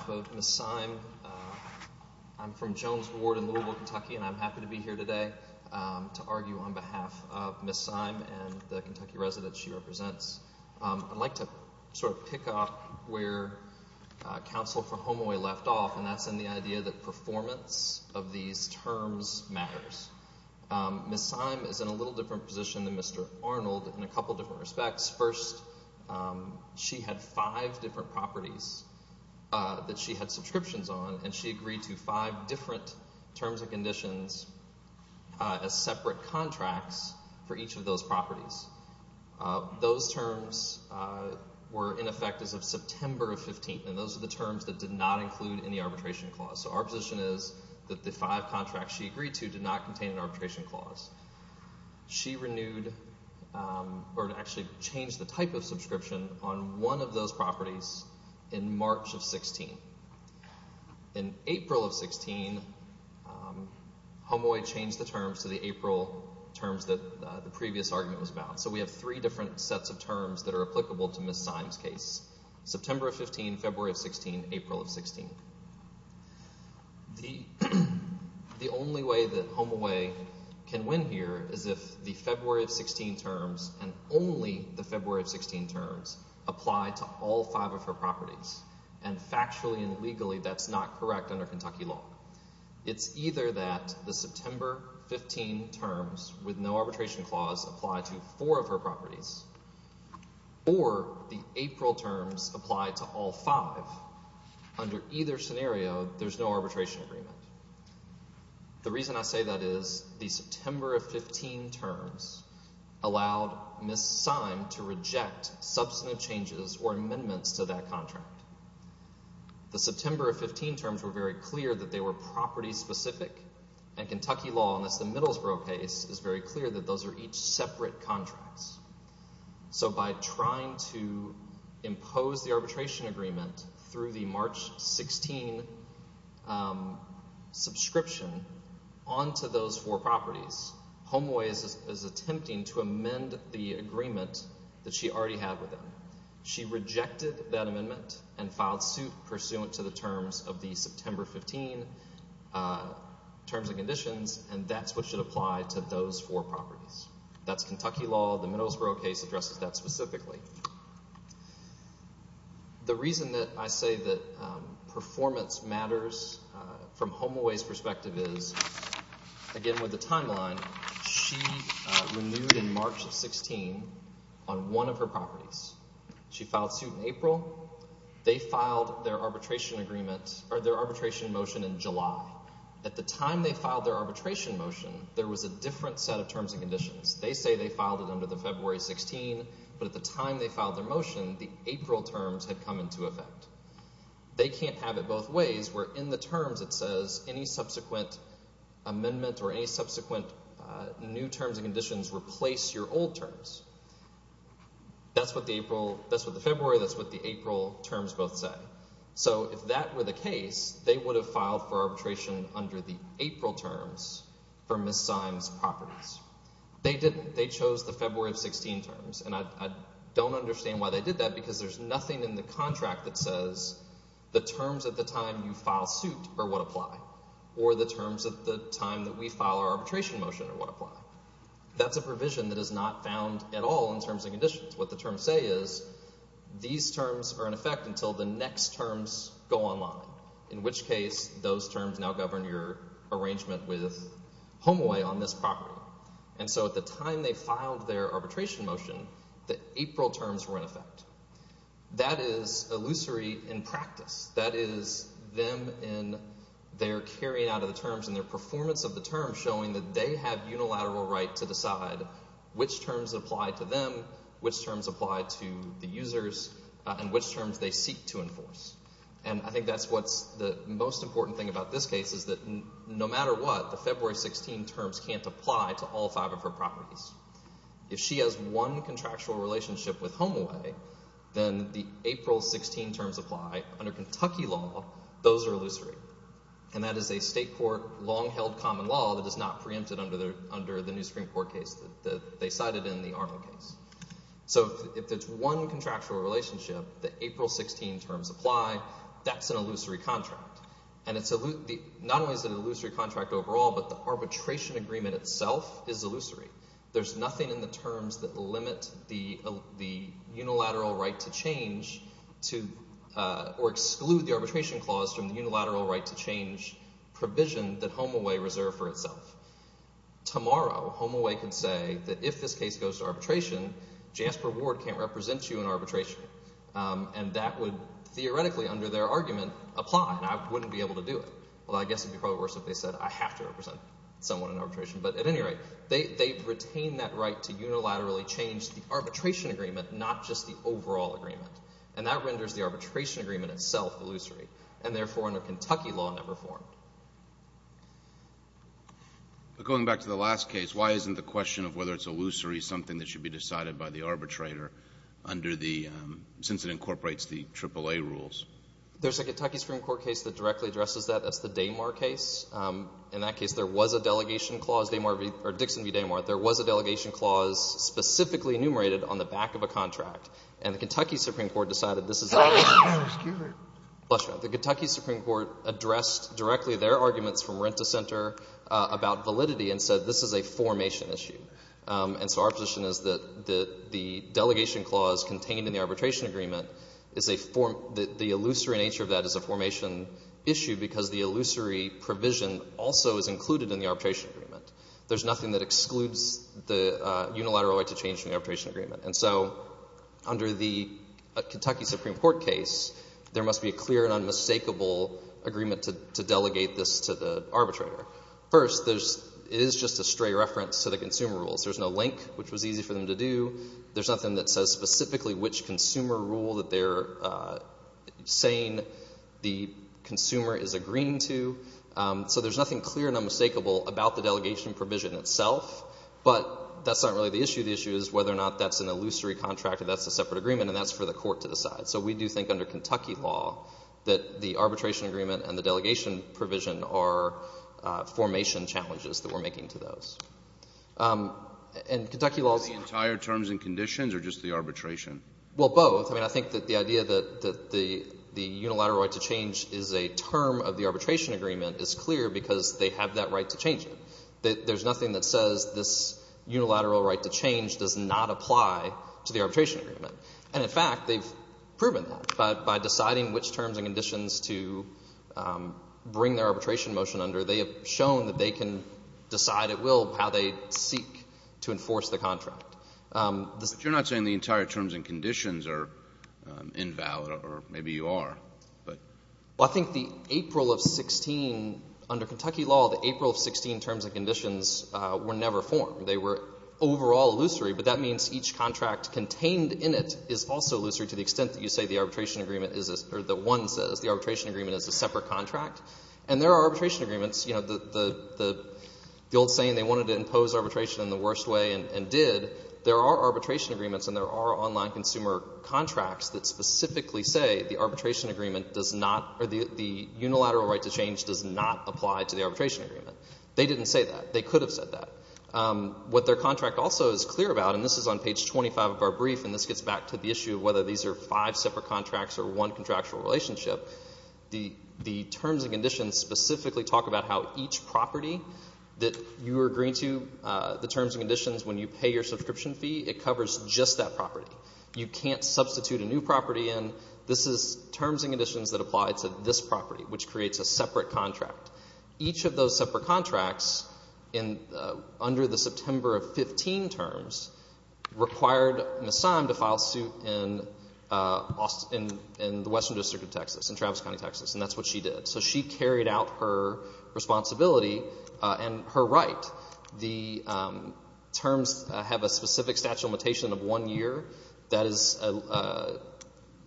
On behalf of Ms. Seim, I'm from Jones Ward in Louisville, Kentucky, and I'm happy to be here today to argue on behalf of Ms. Seim and the Kentucky residents she represents. I'd like to sort of pick up where counsel for HomeAway left off, and that's in the idea that performance of these terms matters. Ms. Seim is in a little different position than Mr. Arnold in a couple different respects. First, she had five different properties that she had subscriptions on, and she agreed to five different terms and conditions as separate contracts for each of those properties. Those terms were in effect as of September of 15, and those are the terms that did not include any arbitration clause. So our position is that the five contracts she agreed to did not contain an arbitration clause. She renewed or actually changed the type of subscription on one of those properties in March of 16. In April of 16, HomeAway changed the terms to the April terms that the previous argument was about. So we have three different sets of terms that are applicable to Ms. Seim's case, September of 15, February of 16, April of 16. The only way that HomeAway can win here is if the February of 16 terms and only the February of 16 terms apply to all five of her properties, and factually and legally that's not correct under Kentucky law. It's either that the September 15 terms with no arbitration clause apply to four of her properties or the April terms apply to all five. Under either scenario, there's no arbitration agreement. The reason I say that is the September of 15 terms allowed Ms. Seim to reject substantive changes or amendments to that contract. The September of 15 terms were very clear that they were property-specific, and Kentucky law, and that's the Middlesbrough case, is very clear that those are each separate contracts. So by trying to impose the arbitration agreement through the March 16 subscription onto those four properties, HomeAway is attempting to amend the agreement that she already had with them. She rejected that amendment and filed suit pursuant to the terms of the September 15 terms and conditions, and that's what should apply to those four properties. That's Kentucky law. The Middlesbrough case addresses that specifically. The reason that I say that performance matters from HomeAway's perspective is, again, with the timeline, she renewed in March of 16 on one of her properties. She filed suit in April. They filed their arbitration motion in July. At the time they filed their arbitration motion, there was a different set of terms and conditions. They say they filed it under the February 16, but at the time they filed their motion, the April terms had come into effect. They can't have it both ways where in the terms it says any subsequent amendment or any subsequent new terms and conditions replace your old terms. That's what the April, that's what the February, that's what the April terms both say. So if that were the case, they would have filed for arbitration under the April terms for Ms. Seim's properties. They didn't. They chose the February 16 terms. And I don't understand why they did that because there's nothing in the contract that says the terms at the time you file suit are what apply or the terms at the time that we file our arbitration motion are what apply. That's a provision that is not found at all in terms and conditions. What the terms say is these terms are in effect until the next terms go online, in which case those terms now govern your arrangement with Homeaway on this property. And so at the time they filed their arbitration motion, the April terms were in effect. That is illusory in practice. That is them in their carrying out of the terms and their performance of the terms showing that they have unilateral right to decide which terms apply to them, which terms apply to the users, and which terms they seek to enforce. And I think that's what's the most important thing about this case is that no matter what, the February 16 terms can't apply to all five of her properties. If she has one contractual relationship with Homeaway, then the April 16 terms apply. Under Kentucky law, those are illusory. And that is a state court long-held common law that is not preempted under the new Supreme Court case that they cited in the Arnold case. So if there's one contractual relationship, the April 16 terms apply, that's an illusory contract. And not only is it an illusory contract overall, but the arbitration agreement itself is illusory. There's nothing in the terms that limit the unilateral right to change or exclude the arbitration clause from the unilateral right to change provision that Homeaway reserved for itself. Tomorrow, Homeaway could say that if this case goes to arbitration, Jasper Ward can't represent you in arbitration. And that would theoretically under their argument apply, and I wouldn't be able to do it. Well, I guess it would be probably worse if they said I have to represent someone in arbitration. But at any rate, they retain that right to unilaterally change the arbitration agreement, not just the overall agreement. And that renders the arbitration agreement itself illusory, and therefore under Kentucky law never formed. But going back to the last case, why isn't the question of whether it's illusory something that should be decided by the arbitrator under the – since it incorporates the AAA rules? There's a Kentucky Supreme Court case that directly addresses that. That's the Damar case. In that case, there was a delegation clause, Damar v. – or Dixon v. Damar. There was a delegation clause specifically enumerated on the back of a contract. And the Kentucky Supreme Court decided this is – Excuse me. Bless you. The Kentucky Supreme Court addressed directly their arguments from rent-to-center about validity and said this is a formation issue. And so our position is that the delegation clause contained in the arbitration agreement is a – the illusory nature of that is a formation issue because the illusory provision also is included in the arbitration agreement. There's nothing that excludes the unilateral right to change in the arbitration agreement. And so under the Kentucky Supreme Court case, there must be a clear and unmistakable agreement to delegate this to the arbitrator. First, there's – it is just a stray reference to the consumer rules. There's no link, which was easy for them to do. There's nothing that says specifically which consumer rule that they're saying the consumer is agreeing to. So there's nothing clear and unmistakable about the delegation provision itself. But that's not really the issue. The issue is whether or not that's an illusory contract or that's a separate agreement, and that's for the court to decide. So we do think under Kentucky law that the arbitration agreement and the delegation provision are formation challenges that we're making to those. And Kentucky law is – Are they entire terms and conditions or just the arbitration? Well, both. I mean, I think that the idea that the unilateral right to change is a term of the arbitration agreement is clear because they have that right to change it. There's nothing that says this unilateral right to change does not apply to the arbitration agreement. And, in fact, they've proven that by deciding which terms and conditions to bring their arbitration motion under. They have shown that they can decide at will how they seek to enforce the contract. But you're not saying the entire terms and conditions are invalid, or maybe you are. Well, I think the April of 16 – under Kentucky law, the April of 16 terms and conditions were never formed. They were overall illusory, but that means each contract contained in it is also illusory to the extent that you say the arbitration agreement is – or that one says the arbitration agreement is a separate contract. And there are arbitration agreements – you know, the old saying, they wanted to impose arbitration in the worst way and did. There are arbitration agreements and there are online consumer contracts that specifically say the arbitration agreement does not – or the unilateral right to change does not apply to the arbitration agreement. They didn't say that. They could have said that. What their contract also is clear about – and this is on page 25 of our brief, and this gets back to the issue of whether these are five separate contracts or one contractual relationship. The terms and conditions specifically talk about how each property that you agree to, the terms and conditions, when you pay your subscription fee, it covers just that property. You can't substitute a new property in. This is terms and conditions that apply to this property, which creates a separate contract. Each of those separate contracts under the September of 15 terms required Ms. Sime to file suit in the Western District of Texas, in Travis County, Texas, and that's what she did. So she carried out her responsibility and her right. The terms have a specific statute of limitation of one year. That is a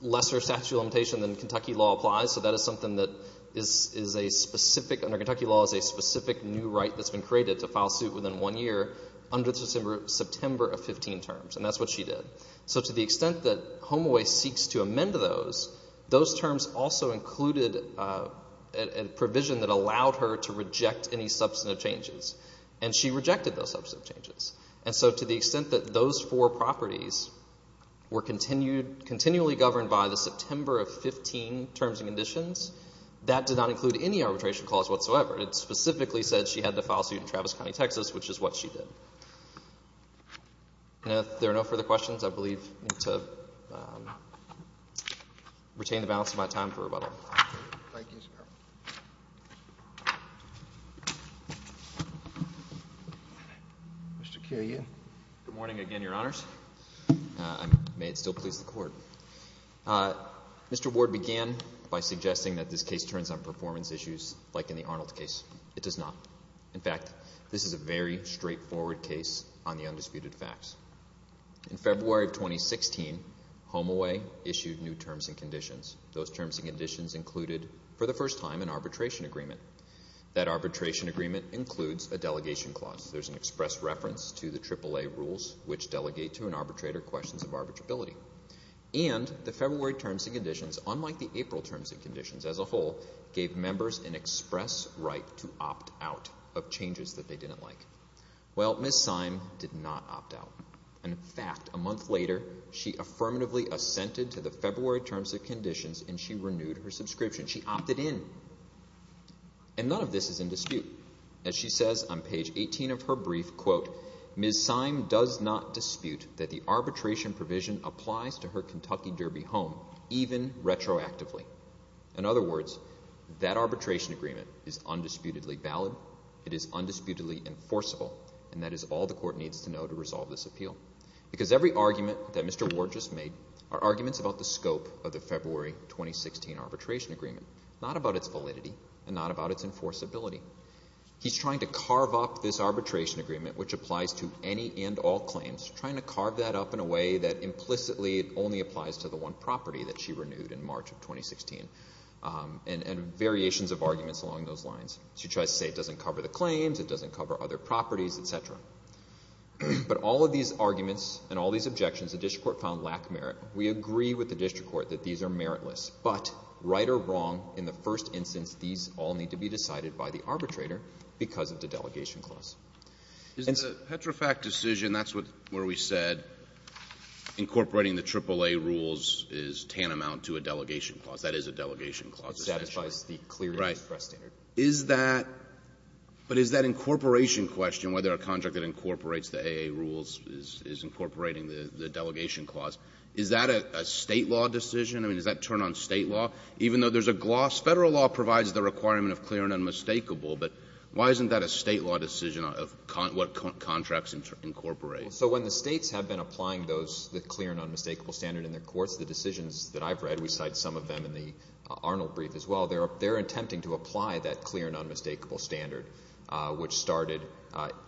lesser statute of limitation than Kentucky law applies, so that is something that is a specific – under Kentucky law is a specific new right that's been created to file suit within one year under the September of 15 terms, and that's what she did. So to the extent that HomeAway seeks to amend those, those terms also included a provision that allowed her to reject any substantive changes, and she rejected those substantive changes. And so to the extent that those four properties were continually governed by the September of 15 terms and conditions, that did not include any arbitration clause whatsoever. It specifically said she had to file suit in Travis County, Texas, which is what she did. And if there are no further questions, I believe I need to retain the balance of my time for rebuttal. Thank you, sir. Mr. Keohokalole. Good morning again, Your Honors. May it still please the Court. Mr. Ward began by suggesting that this case turns on performance issues like in the Arnold case. It does not. In fact, this is a very straightforward case on the undisputed facts. Those terms and conditions included, for the first time, an arbitration agreement. That arbitration agreement includes a delegation clause. There's an express reference to the AAA rules, which delegate to an arbitrator questions of arbitrability. And the February terms and conditions, unlike the April terms and conditions as a whole, gave members an express right to opt out of changes that they didn't like. Well, Ms. Syme did not opt out. In fact, a month later, she affirmatively assented to the February terms and conditions, and she renewed her subscription. She opted in. And none of this is in dispute. As she says on page 18 of her brief, quote, Ms. Syme does not dispute that the arbitration provision applies to her Kentucky Derby home, even retroactively. In other words, that arbitration agreement is undisputedly valid. It is undisputedly enforceable. And that is all the court needs to know to resolve this appeal. Because every argument that Mr. Ward just made are arguments about the scope of the February 2016 arbitration agreement, not about its validity and not about its enforceability. He's trying to carve up this arbitration agreement, which applies to any and all claims, trying to carve that up in a way that implicitly only applies to the one property that she renewed in March of 2016, and variations of arguments along those lines. She tries to say it doesn't cover the claims, it doesn't cover other properties, et cetera. But all of these arguments and all these objections, the district court found lack merit. We agree with the district court that these are meritless. But right or wrong, in the first instance, these all need to be decided by the arbitrator because of the delegation clause. And so — The Petrofac decision, that's where we said incorporating the AAA rules is tantamount to a delegation clause. That is a delegation clause. It satisfies the clear express standard. Is that — but is that incorporation question, whether a contract that incorporates the AAA rules is incorporating the delegation clause, is that a State law decision? I mean, does that turn on State law? Even though there's a gloss, Federal law provides the requirement of clear and unmistakable, but why isn't that a State law decision of what contracts incorporate? So when the States have been applying those, the clear and unmistakable standard in their courts, the decisions that I've read, we cite some of them in the Arnold brief as well, they're attempting to apply that clear and unmistakable standard, which started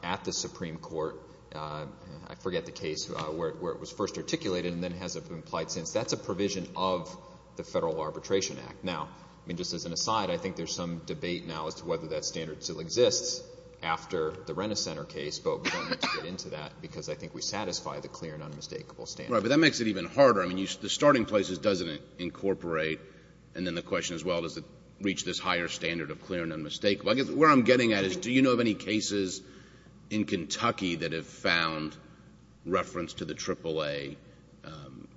at the Supreme Court. I forget the case where it was first articulated and then hasn't been applied since. That's a provision of the Federal Arbitration Act. Now, I mean, just as an aside, I think there's some debate now as to whether that standard still exists after the Renner Center case, but we don't need to get into that because I think we satisfy the clear and unmistakable standard. Right, but that makes it even harder. I mean, the starting place is does it incorporate, and then the question as well, does it reach this higher standard of clear and unmistakable? I guess where I'm getting at is do you know of any cases in Kentucky that have found reference to the AAA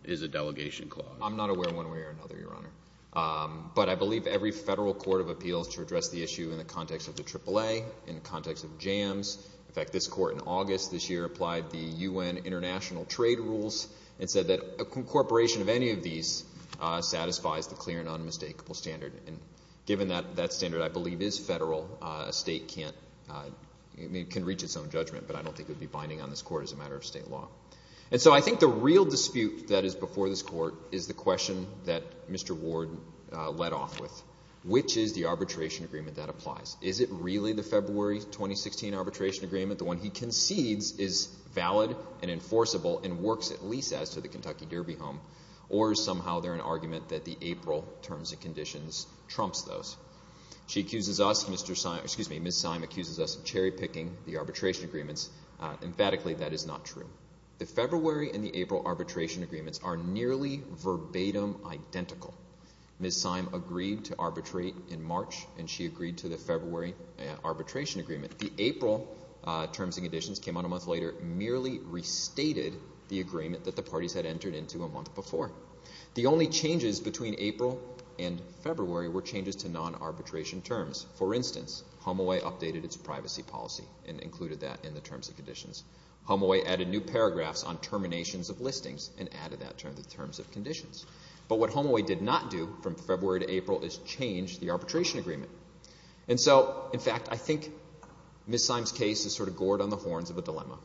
as a delegation clause? I'm not aware of one way or another, Your Honor, but I believe every Federal court of appeals to address the issue in the context of the AAA, in the context of jams. In fact, this court in August this year applied the U.N. international trade rules and said that incorporation of any of these satisfies the clear and unmistakable standard, and given that that standard I believe is Federal, a state can reach its own judgment, but I don't think it would be binding on this court as a matter of state law. And so I think the real dispute that is before this court is the question that Mr. Ward led off with. Which is the arbitration agreement that applies? Is it really the February 2016 arbitration agreement, the one he concedes is valid and enforceable and works at least as to the Kentucky Derby home, or is somehow there an argument that the April terms and conditions trumps those? She accuses us, Ms. Syme accuses us of cherry-picking the arbitration agreements. Emphatically, that is not true. The February and the April arbitration agreements are nearly verbatim identical. Ms. Syme agreed to arbitrate in March, and she agreed to the February arbitration agreement. The April terms and conditions came out a month later, merely restated the agreement that the parties had entered into a month before. The only changes between April and February were changes to non-arbitration terms. For instance, HomeAway updated its privacy policy and included that in the terms and conditions. HomeAway added new paragraphs on terminations of listings and added that to the terms and conditions. But what HomeAway did not do from February to April is change the arbitration agreement. And so, in fact, I think Ms. Syme's case is sort of gored on the horns of a dilemma.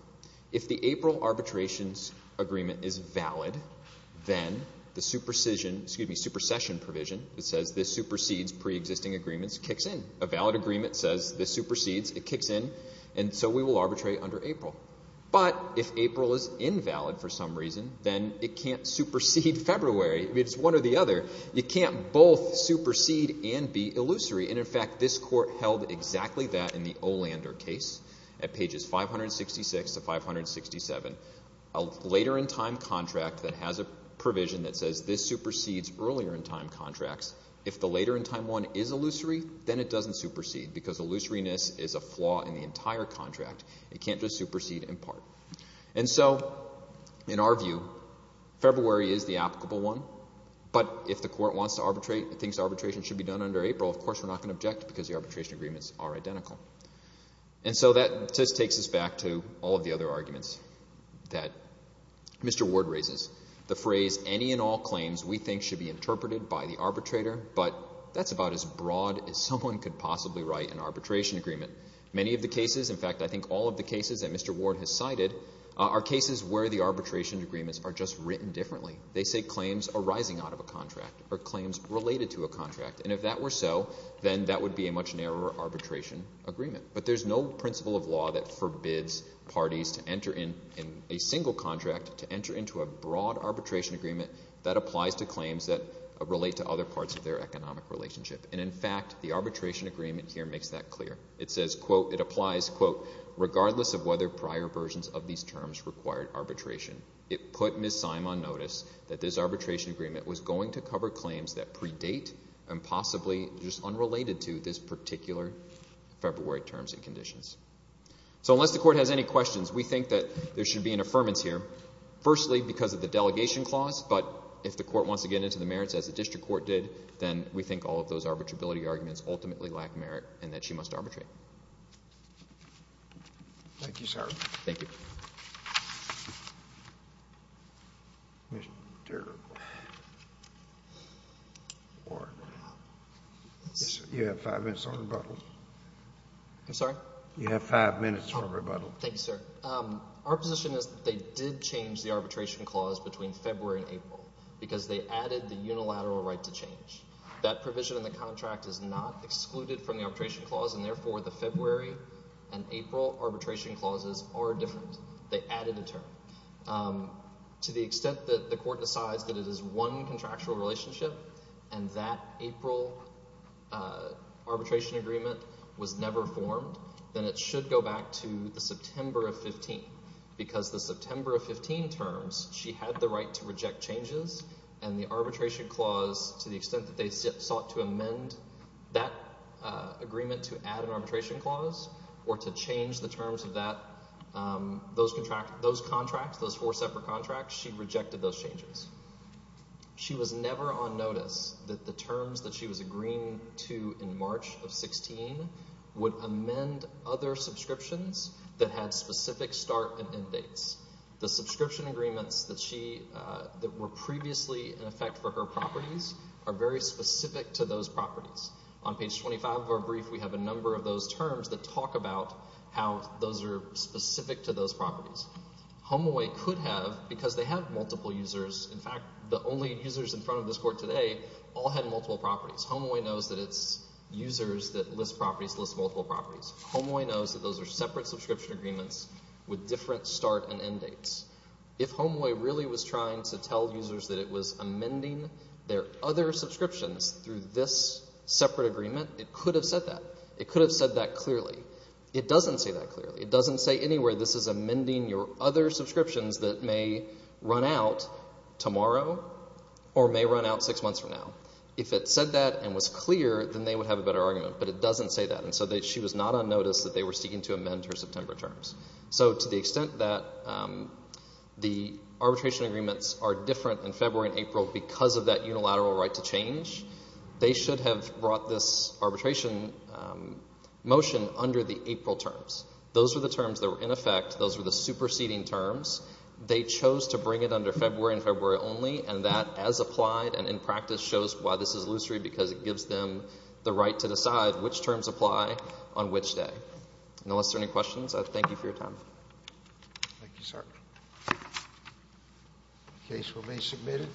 If the April arbitrations agreement is valid, then the supersession provision that says this supersedes preexisting agreements kicks in. A valid agreement says this supersedes, it kicks in, and so we will arbitrate under April. But if April is invalid for some reason, then it can't supersede February. It's one or the other. You can't both supersede and be illusory. And, in fact, this court held exactly that in the Olander case at pages 566 to 567, a later-in-time contract that has a provision that says this supersedes earlier-in-time contracts. If the later-in-time one is illusory, then it doesn't supersede because illusoriness is a flaw in the entire contract. It can't just supersede in part. And so, in our view, February is the applicable one. But if the court thinks arbitration should be done under April, of course we're not going to object because the arbitration agreements are identical. And so that just takes us back to all of the other arguments that Mr. Ward raises. The phrase, any and all claims we think should be interpreted by the arbitrator, but that's about as broad as someone could possibly write an arbitration agreement. Many of the cases, in fact, I think all of the cases that Mr. Ward has cited are cases where the arbitration agreements are just written differently. They say claims arising out of a contract or claims related to a contract. And if that were so, then that would be a much narrower arbitration agreement. But there's no principle of law that forbids parties to enter in a single contract to enter into a broad arbitration agreement that applies to claims that relate to other parts of their economic relationship. And, in fact, the arbitration agreement here makes that clear. It says, quote, it applies, quote, regardless of whether prior versions of these terms required arbitration. It put Ms. Symon notice that this arbitration agreement was going to cover claims that predate and possibly just unrelated to this particular February terms and conditions. So unless the court has any questions, we think that there should be an affirmance here, firstly because of the delegation clause. But if the court wants to get into the merits, as the district court did, then we think all of those arbitrability arguments ultimately lack merit and that she must arbitrate. Thank you, sir. Thank you. You have five minutes for rebuttal. I'm sorry? You have five minutes for rebuttal. Thank you, sir. Our position is that they did change the arbitration clause between February and April because they added the unilateral right to change. That provision in the contract is not excluded from the arbitration clause and, therefore, the February and April arbitration clauses are different. They added a term. To the extent that the court decides that it is one contractual relationship and that April arbitration agreement was never formed, then it should go back to the September of 15, because the September of 15 terms she had the right to reject changes and the arbitration clause, to the extent that they sought to amend that agreement to add an arbitration clause or to change the terms of those contracts, those four separate contracts, she rejected those changes. She was never on notice that the terms that she was agreeing to in March of 16 would amend other subscriptions that had specific start and end dates. The subscription agreements that were previously in effect for her properties are very specific to those properties. On page 25 of our brief, we have a number of those terms that talk about how those are specific to those properties. HomeAway could have, because they had multiple users, in fact, the only users in front of this court today all had multiple properties. HomeAway knows that it's users that list properties list multiple properties. HomeAway knows that those are separate subscription agreements with different start and end dates. If HomeAway really was trying to tell users that it was amending their other subscriptions through this separate agreement, it could have said that. It could have said that clearly. It doesn't say that clearly. It doesn't say anywhere this is amending your other subscriptions that may run out tomorrow or may run out six months from now. If it said that and was clear, then they would have a better argument, but it doesn't say that. And so she was not on notice that they were seeking to amend her September terms. So to the extent that the arbitration agreements are different in February and April because of that unilateral right to change, they should have brought this arbitration motion under the April terms. Those were the terms that were in effect. Those were the superseding terms. They chose to bring it under February and February only, and that as applied and in practice shows why this is illusory because it gives them the right to decide which terms apply on which day. Unless there are any questions, I thank you for your time. Thank you, sir. The case will be submitted.